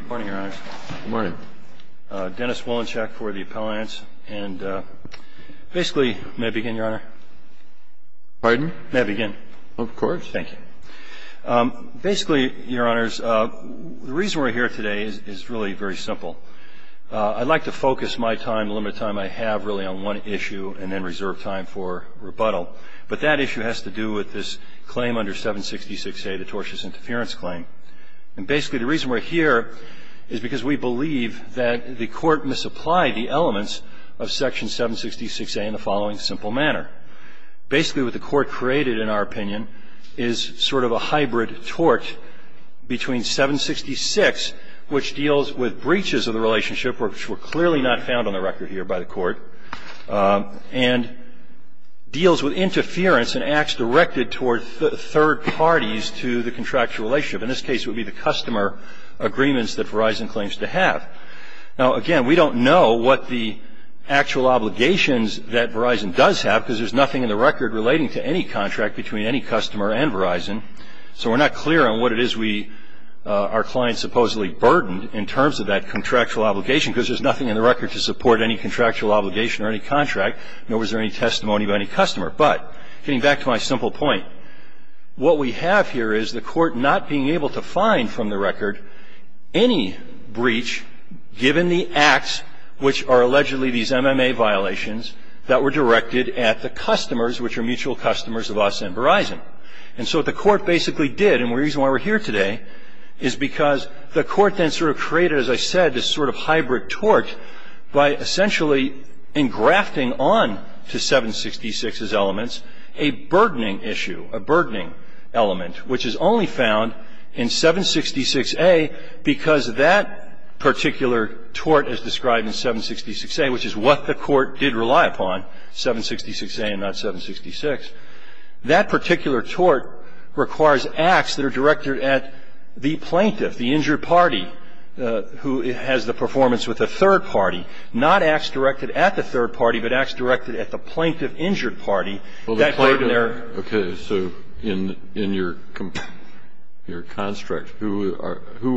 Good morning, Your Honor. Good morning. Dennis Wolinchak for the Appellants. And basically, may I begin, Your Honor? Pardon? May I begin? Of course. Thank you. Basically, Your Honors, the reason we're here today is really very simple. I'd like to focus my time, the limited time I have, really, on one issue and then reserve time for rebuttal. But that issue has to do with this claim under 766A, the tortious interference claim. And basically, the reason we're here is because we believe that the Court misapplied the elements of Section 766A in the following simple manner. Basically, what the Court created, in our opinion, is sort of a hybrid tort between 766, which deals with breaches of the relationship, which were clearly not found on the record here by the Court, and deals with interference and acts directed toward third parties to the contractual relationship. In this case, it would be the customer agreements that Verizon claims to have. Now, again, we don't know what the actual obligations that Verizon does have, because there's nothing in the record relating to any contract between any customer and Verizon. So we're not clear on what it is we, our clients supposedly burdened in terms of that contractual obligation, because there's nothing in the record to support any contractual obligation or any contract, nor was there any testimony by any customer. But getting back to my simple point, what we have here is the Court not being able to find from the record any breach given the acts which are allegedly these MMA violations that were directed at the customers, which are mutual customers of us and Verizon. And so what the Court basically did, and the reason why we're here today, is because the Court then sort of created, as I said, this sort of hybrid tort by essentially engrafting on to 766's elements a burdening issue, a burdening element, which is only found in 766A because that particular tort as described in 766A, which is what the Court did rely upon, 766A and not 766, that particular tort requires acts that are directed at the plaintiff, who has the performance with a third party, not acts directed at the third party, but acts directed at the plaintiff-injured party. Well, the plaintiff. Okay. So in your construct, who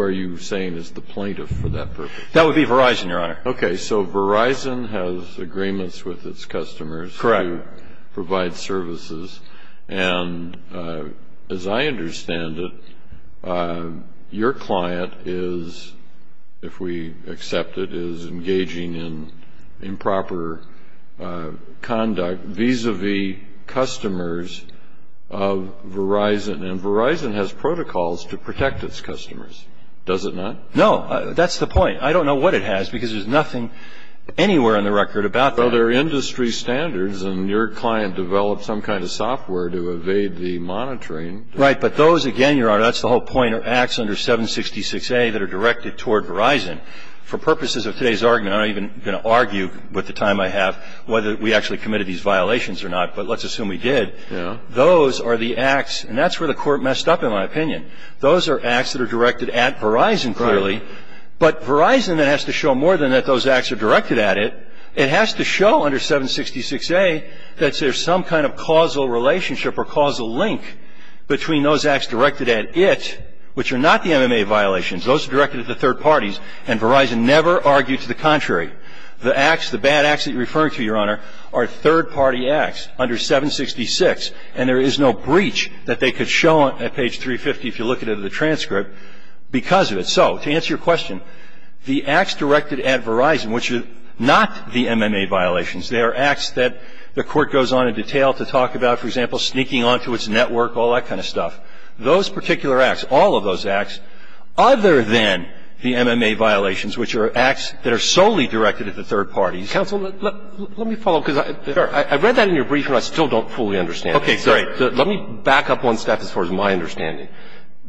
are you saying is the plaintiff for that purpose? That would be Verizon, Your Honor. So Verizon has agreements with its customers to provide services. Correct. And as I understand it, your client is, if we accept it, is engaging in improper conduct vis-a-vis customers of Verizon. And Verizon has protocols to protect its customers, does it not? No, that's the point. I don't know what it has because there's nothing anywhere on the record about that. Well, there are industry standards, and your client developed some kind of software to evade the monitoring. Right. But those, again, Your Honor, that's the whole point, are acts under 766A that are directed toward Verizon. For purposes of today's argument, I'm not even going to argue with the time I have whether we actually committed these violations or not, but let's assume we did. Yeah. Those are the acts, and that's where the Court messed up, in my opinion. Those are acts that are directed at Verizon, clearly, but Verizon then has to show more than that those acts are directed at it. It has to show under 766A that there's some kind of causal relationship or causal link between those acts directed at it, which are not the MMA violations. Those are directed at the third parties, and Verizon never argued to the contrary. The acts, the bad acts that you're referring to, Your Honor, are third-party acts under 766, and there is no breach that they could show on page 350, if you look at it in the transcript, because of it. So to answer your question, the acts directed at Verizon, which are not the MMA violations, they are acts that the Court goes on in detail to talk about, for example, sneaking onto its network, all that kind of stuff. Those particular acts, all of those acts, other than the MMA violations, which are acts that are solely directed at the third parties. Counsel, let me follow, because I read that in your brief, and I still don't fully understand it. Okay. Sorry. Let me back up one step as far as my understanding.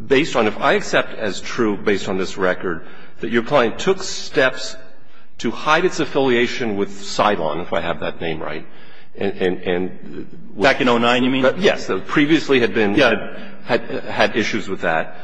Based on, if I accept as true, based on this record, that your client took steps to hide its affiliation with Cylon, if I have that name right, and, and, and. Back in 09, you mean? Yes. Previously had been. Yeah. Had issues with that.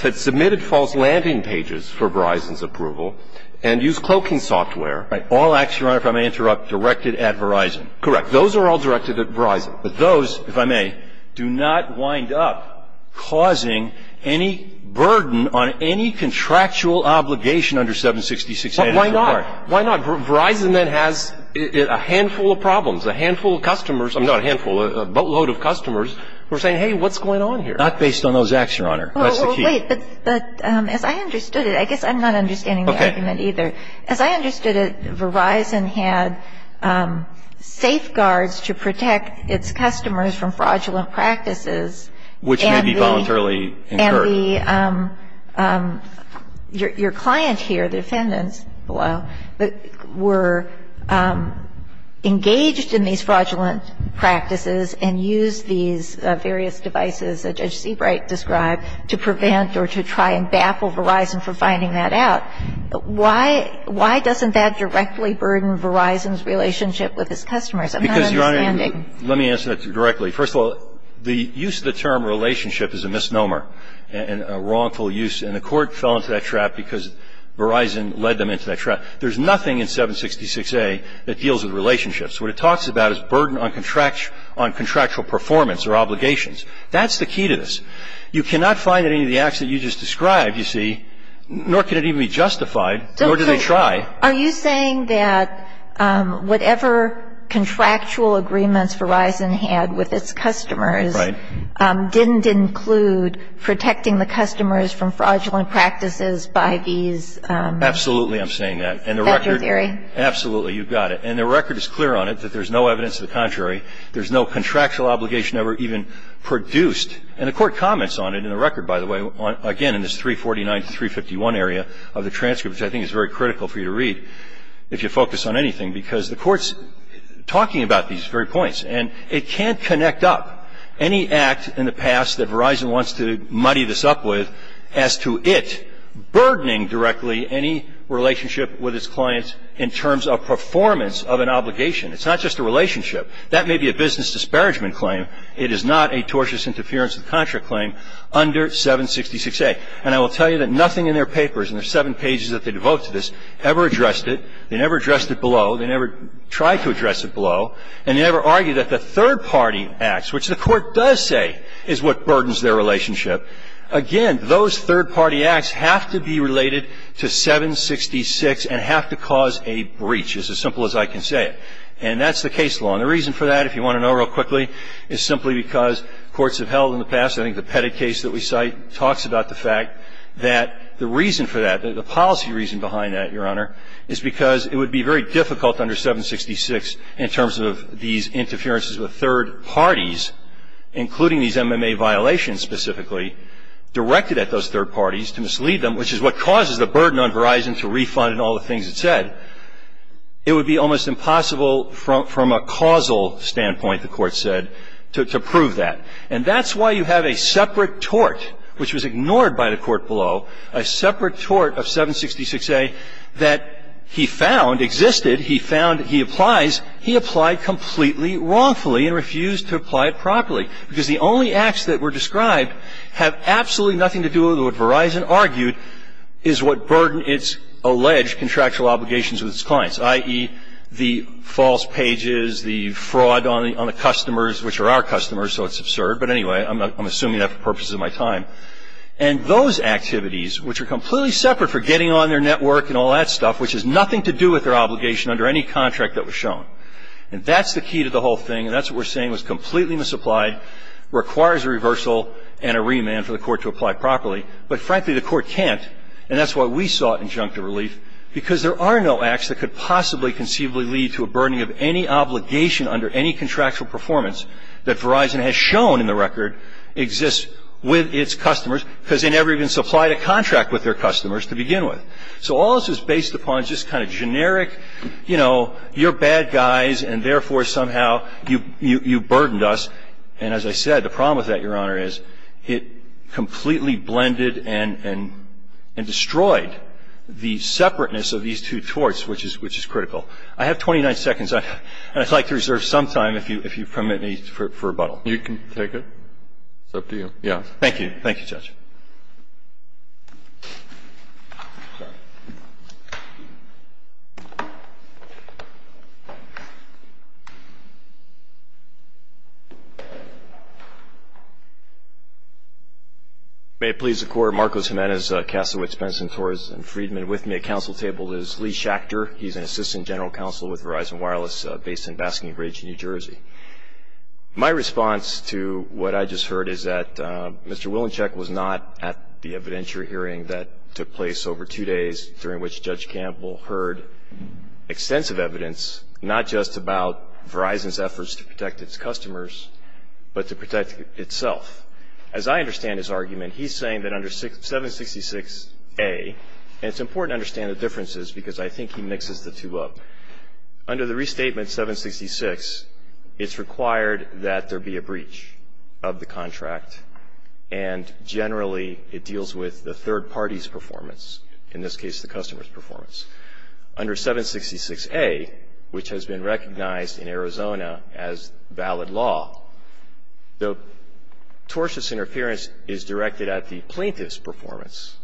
Had submitted false landing pages for Verizon's approval, and used cloaking software. Right. All acts, Your Honor, if I may interrupt, directed at Verizon. Those are all directed at Verizon. But those, if I may, do not wind up causing any burden on any contractual obligation under 766. But why not? Why not? Verizon then has a handful of problems, a handful of customers. I mean, not a handful, a boatload of customers who are saying, hey, what's going on here? Not based on those acts, Your Honor. That's the key. Well, wait, but, but as I understood it, I guess I'm not understanding the argument either. As I understood it, Verizon had safeguards to protect its customers from fraudulent practices. Which may be voluntarily incurred. And the, your client here, the defendants below, were engaged in these fraudulent practices and used these various devices that Judge Seabright described to prevent or to try and baffle Verizon for finding that out. Why, why doesn't that directly burden Verizon's relationship with its customers? I'm not understanding. Because, Your Honor, let me answer that directly. First of all, the use of the term relationship is a misnomer and a wrongful use. And the court fell into that trap because Verizon led them into that trap. There's nothing in 766A that deals with relationships. What it talks about is burden on contractual performance or obligations. That's the key to this. You cannot find in any of the acts that you just described, you see, nor can it even be justified. Nor do they try. Are you saying that whatever contractual agreements Verizon had with its customers didn't include protecting the customers from fraudulent practices by these? Absolutely, I'm saying that. Factor theory? Absolutely, you've got it. And the record is clear on it that there's no evidence to the contrary. There's no contractual obligation ever even produced. And the court comments on it in the record, by the way, again, in this 349 to 351 area of the transcript, which I think is very critical for you to read if you focus on anything, because the court's talking about these very points. And it can't connect up any act in the past that Verizon wants to muddy this up with as to it burdening directly any relationship with its clients in terms of performance of an obligation. It's not just a relationship. That may be a business disparagement claim. It is not a tortious interference of the contract claim under 766A. And I will tell you that nothing in their papers, in their seven pages that they devote to this, ever addressed it. They never addressed it below. They never tried to address it below. And they never argued that the third-party acts, which the court does say is what burdens their relationship, again, those third-party acts have to be related to 766 and have to cause a breach. It's as simple as I can say it. And that's the case law. And the reason for that, if you want to know real quickly, is simply because courts have held in the past, I think the Pettit case that we cite talks about the fact that the reason for that, the policy reason behind that, Your Honor, is because it would be very difficult under 766 in terms of these interferences with third parties, including these MMA violations specifically, directed at those third parties to mislead them, which is what causes the burden on Verizon to refund and all the things it said. It would be almost impossible from a causal standpoint, the Court said, to prove that. And that's why you have a separate tort, which was ignored by the Court below, a separate tort of 766A that he found existed, he found he applies. He applied completely wrongfully and refused to apply it properly, because the only acts that were described have absolutely nothing to do with what Verizon argued is what burdened its alleged contractual obligations with its clients, i.e., the false pages, the fraud on the customers, which are our customers, so it's absurd. But anyway, I'm assuming that for purposes of my time. And those activities, which are completely separate for getting on their network and all that stuff, which has nothing to do with their obligation under any contract that was shown. And that's the key to the whole thing, and that's what we're saying was completely misapplied, requires a reversal and a remand for the Court to apply properly. But frankly, the Court can't. And that's why we sought injunctive relief, because there are no acts that could possibly conceivably lead to a burdening of any obligation under any contractual performance that Verizon has shown in the record exists with its customers, because they never even supplied a contract with their customers to begin with. So all this is based upon just kind of generic, you know, you're bad guys, and therefore somehow you burdened us. And as I said, the problem with that, Your Honor, is it completely blended and destroyed the separateness of these two torts, which is critical. I have 29 seconds, and I'd like to reserve some time, if you permit me, for rebuttal. You can take it. It's up to you. Yes. Thank you, Judge. May it please the Court. Marcos Jimenez, Kassowitz, Benson, Torres, and Friedman with me. At counsel table is Lee Schachter. He's an assistant general counsel with Verizon Wireless based in Basking Ridge, New Jersey. My response to what I just heard is that Mr. Willenchek was not in favor of the He was in favor of the remand. He was in favor of the remand. I'm not at the evidentiary hearing that took place over two days during which Judge Campbell heard extensive evidence, not just about Verizon's efforts to protect its customers, but to protect itself. As I understand his argument, he's saying that under 766A, and it's important to understand the differences because I think he mixes the two up. Under the restatement 766, it's required that there be a breach of the contract, and generally it deals with the third party's performance, in this case the customer's performance. Under 766A, which has been recognized in Arizona as valid law, the tortious interference is directed at the plaintiff's performance,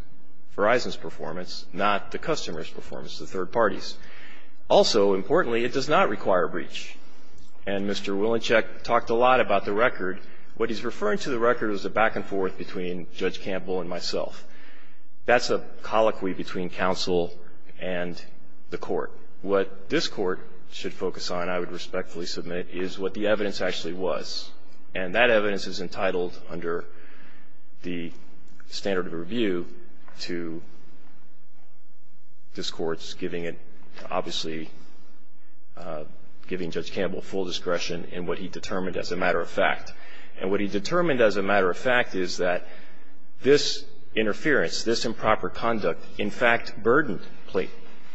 Verizon's performance, not the customer's performance, the third party's. Also, importantly, it does not require a breach. And Mr. Willenchek talked a lot about the record. What he's referring to the record is the back and forth between Judge Campbell and myself. That's a colloquy between counsel and the Court. What this Court should focus on, I would respectfully submit, is what the evidence actually was, and that evidence is entitled under the standard of review to this Court's giving it, obviously, giving Judge Campbell full discretion in what he determined as a matter of fact. And what he determined as a matter of fact is that this interference, this improper conduct, in fact burdened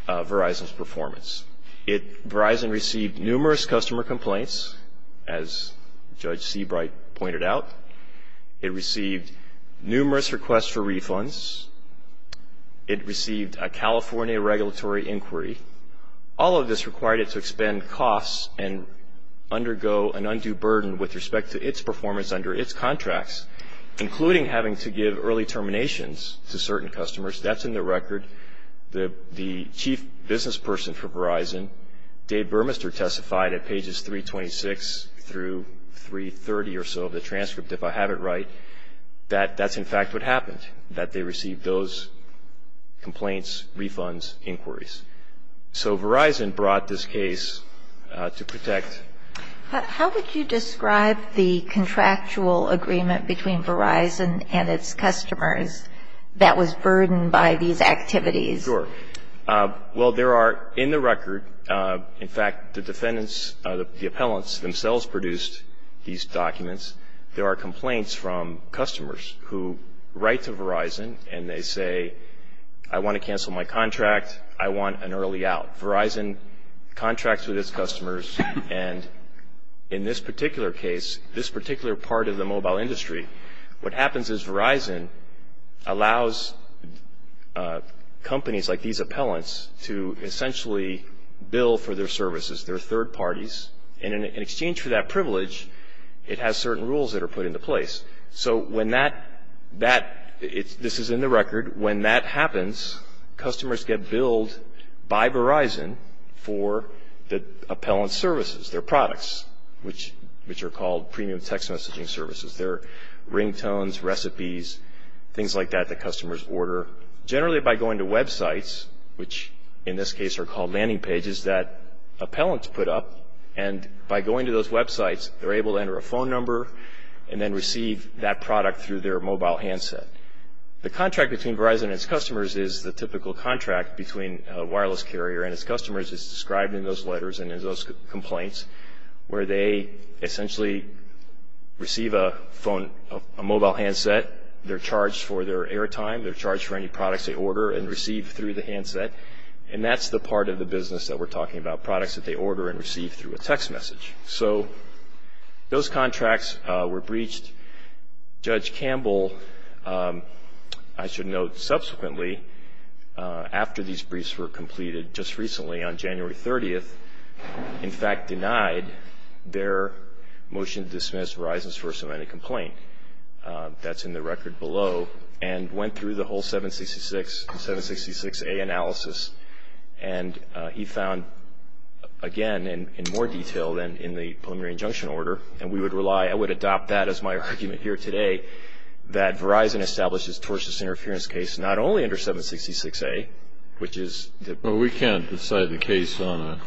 Verizon's performance. Verizon received numerous customer complaints, as Judge Seabright pointed out. It received numerous requests for refunds. It received a California regulatory inquiry. All of this required it to expend costs and undergo an undue burden with respect to its performance under its contracts, including having to give early terminations to certain customers. That's in the record. The chief business person for Verizon, Dave Burmester, testified at pages 326 through 330 or so of the transcript, if I have it right, that that's, in fact, what happened, that they received those complaints, refunds, inquiries. So Verizon brought this case to protect. How would you describe the contractual agreement between Verizon and its customers that was burdened by these activities? Sure. Well, there are in the record, in fact, the defendants, the appellants themselves produced these documents. There are complaints from customers who write to Verizon and they say, I want to cancel my contract. I want an early out. Verizon contracts with its customers, and in this particular case, this particular part of the mobile industry, what happens is Verizon allows companies like these appellants to essentially bill for their services, their third parties. And in exchange for that privilege, it has certain rules that are put into place. So when that – this is in the record. When that happens, customers get billed by Verizon for the appellant services, their products, which are called premium text messaging services. They're ringtones, recipes, things like that that customers order. Generally, by going to websites, which in this case are called landing pages that And by going to those websites, they're able to enter a phone number and then receive that product through their mobile handset. The contract between Verizon and its customers is the typical contract between a wireless carrier and its customers is described in those letters and in those complaints, where they essentially receive a mobile handset. They're charged for their airtime. They're charged for any products they order and receive through the handset. And that's the part of the business that we're talking about, the products that they order and receive through a text message. So those contracts were breached. Judge Campbell, I should note, subsequently, after these briefs were completed, just recently on January 30th, in fact, denied their motion to dismiss Verizon's First Amendment complaint. That's in the record below. And went through the whole 766 and 766A analysis. And he found, again, in more detail than in the preliminary injunction order, and we would rely, I would adopt that as my argument here today, that Verizon establishes a tortious interference case not only under 766A, which is the Well, we can't decide the case on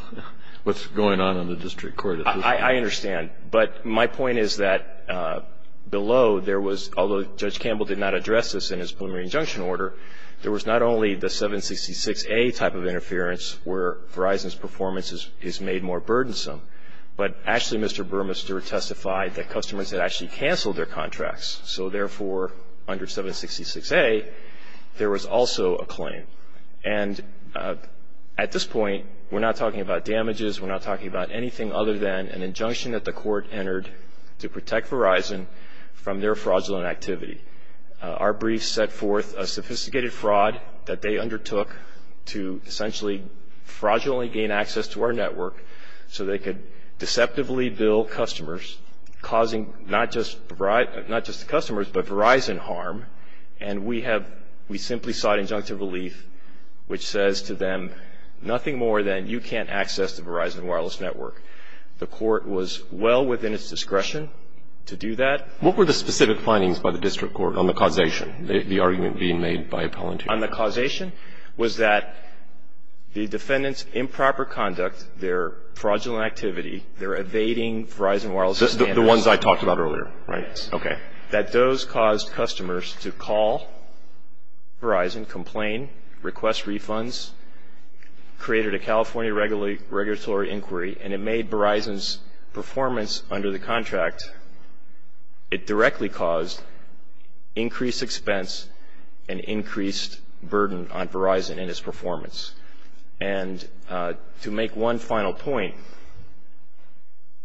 what's going on in the district court. I understand. But my point is that below there was, although Judge Campbell did not address this in his preliminary injunction order, there was not only the 766A type of interference where Verizon's performance is made more burdensome, but actually Mr. Burmester testified that customers had actually canceled their contracts. So, therefore, under 766A, there was also a claim. And at this point, we're not talking about damages. We're not talking about anything other than an injunction that the court entered to protect Verizon from their fraudulent activity. Our brief set forth a sophisticated fraud that they undertook to essentially fraudulently gain access to our network so they could deceptively bill customers, causing not just the customers, but Verizon harm. And we have we simply sought injunctive relief, which says to them, nothing more than you can't access the Verizon wireless network. The court was well within its discretion to do that. What were the specific findings by the district court on the causation, the argument being made by appellant here? On the causation was that the defendant's improper conduct, their fraudulent activity, their evading Verizon wireless standards. The ones I talked about earlier. Right. Okay. That those caused customers to call Verizon, complain, request refunds, created a California regulatory inquiry, and it made Verizon's performance under the contract, it directly caused increased expense and increased burden on Verizon and its performance. And to make one final point,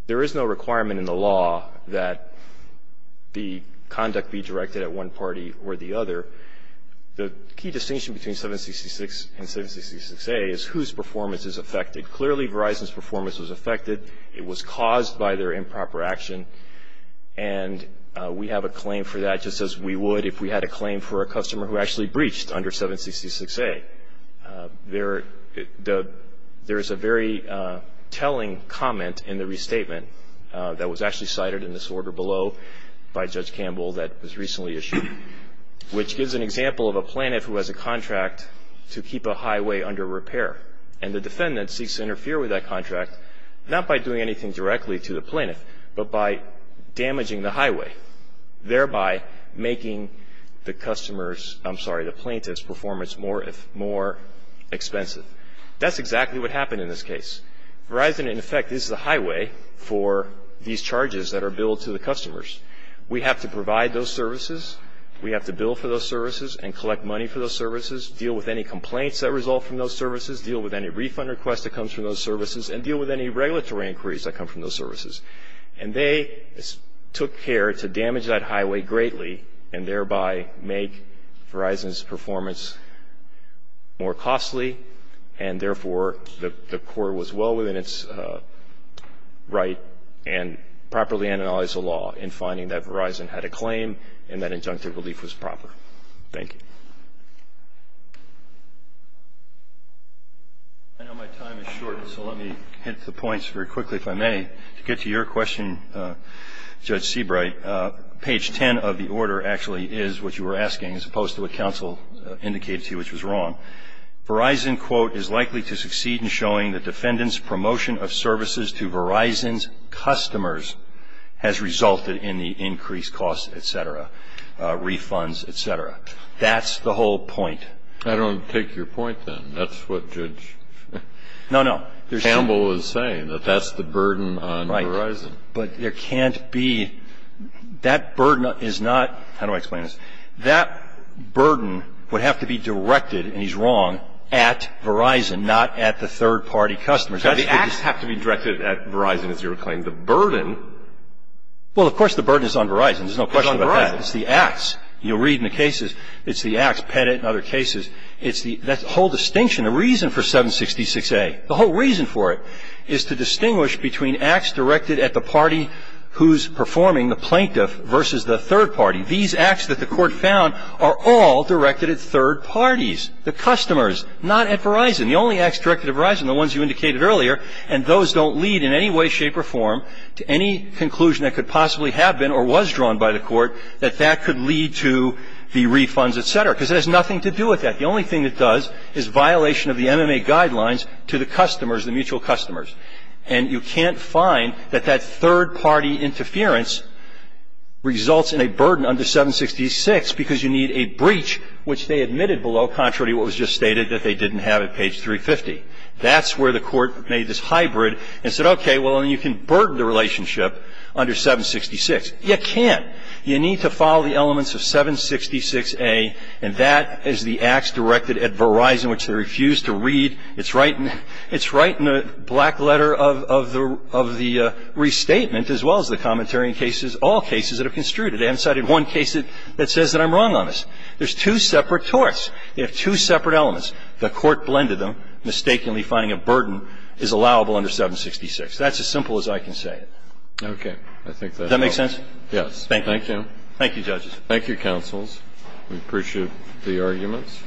there is no requirement in the law that the conduct be directed at one party or the other. The key distinction between 766 and 766A is whose performance is affected. Clearly Verizon's performance was affected. It was caused by their improper action. And we have a claim for that just as we would if we had a claim for a customer who actually breached under 766A. There is a very telling comment in the restatement that was actually cited in this order below by Judge Campbell that was recently issued, which gives an example of a plaintiff who has a contract to keep a highway under repair. And the defendant seeks to interfere with that contract, not by doing anything directly to the plaintiff, but by damaging the highway, thereby making the plaintiff's performance more expensive. That's exactly what happened in this case. Verizon, in effect, is the highway for these charges that are billed to the customers. We have to provide those services. We have to bill for those services and collect money for those services, deal with any complaints that result from those services, deal with any refund request that comes from those services, and deal with any regulatory inquiries that come from those services. And they took care to damage that highway greatly and thereby make Verizon's performance more costly, and therefore the court was well within its right and properly analyzed the law in finding that Verizon had a claim and that injunctive relief was proper. Thank you. I know my time is short, so let me hit the points very quickly, if I may. To get to your question, Judge Seabright, page 10 of the order actually is what you were asking, as opposed to what counsel indicated to you, which was wrong. Verizon, quote, is likely to succeed in showing the defendant's promotion of services to Verizon's customers has resulted in the increased costs, et cetera, refunds, et cetera. That's the whole point. I don't take your point, then. That's what Judge Campbell is saying, that that's the burden on Verizon. Right. But there can't be – that burden is not – how do I explain this? That burden would have to be directed, and he's wrong, at Verizon, not at the third-party customers. The acts have to be directed at Verizon, as you were claiming. The burden – Well, of course the burden is on Verizon. There's no question about that. It's on Verizon. It's the acts. You'll read in the cases, it's the acts, Pettit and other cases. It's the – that whole distinction, the reason for 766A, the whole reason for it, is to distinguish between acts directed at the party who's performing, the plaintiff, versus the third-party. These acts that the court found are all directed at third-parties, the customers, not at Verizon. The only acts directed at Verizon, the ones you indicated earlier, and those don't lead in any way, shape, or form to any conclusion that could possibly have been or was drawn by the court that that could lead to the refunds, et cetera, because it has nothing to do with that. The only thing it does is violation of the MMA guidelines to the customers, the mutual customers. And you can't find that that third-party interference results in a burden under 766 because you need a breach, which they admitted below, contrary to what was just stated, that they didn't have at page 350. That's where the court made this hybrid and said, okay, well, then you can burden the relationship under 766. You can't. You need to follow the elements of 766A, and that is the acts directed at Verizon, which they refuse to read. It's right in the black letter of the restatement, as well as the commentary in cases, all cases that are construed. They haven't cited one case that says that I'm wrong on this. There's two separate torts. They have two separate elements. The court blended them, mistakenly finding a burden is allowable under 766. That's as simple as I can say it. Okay. I think that's all. Does that make sense? Yes. Thank you. Thank you, judges. Thank you, counsels. We appreciate the arguments.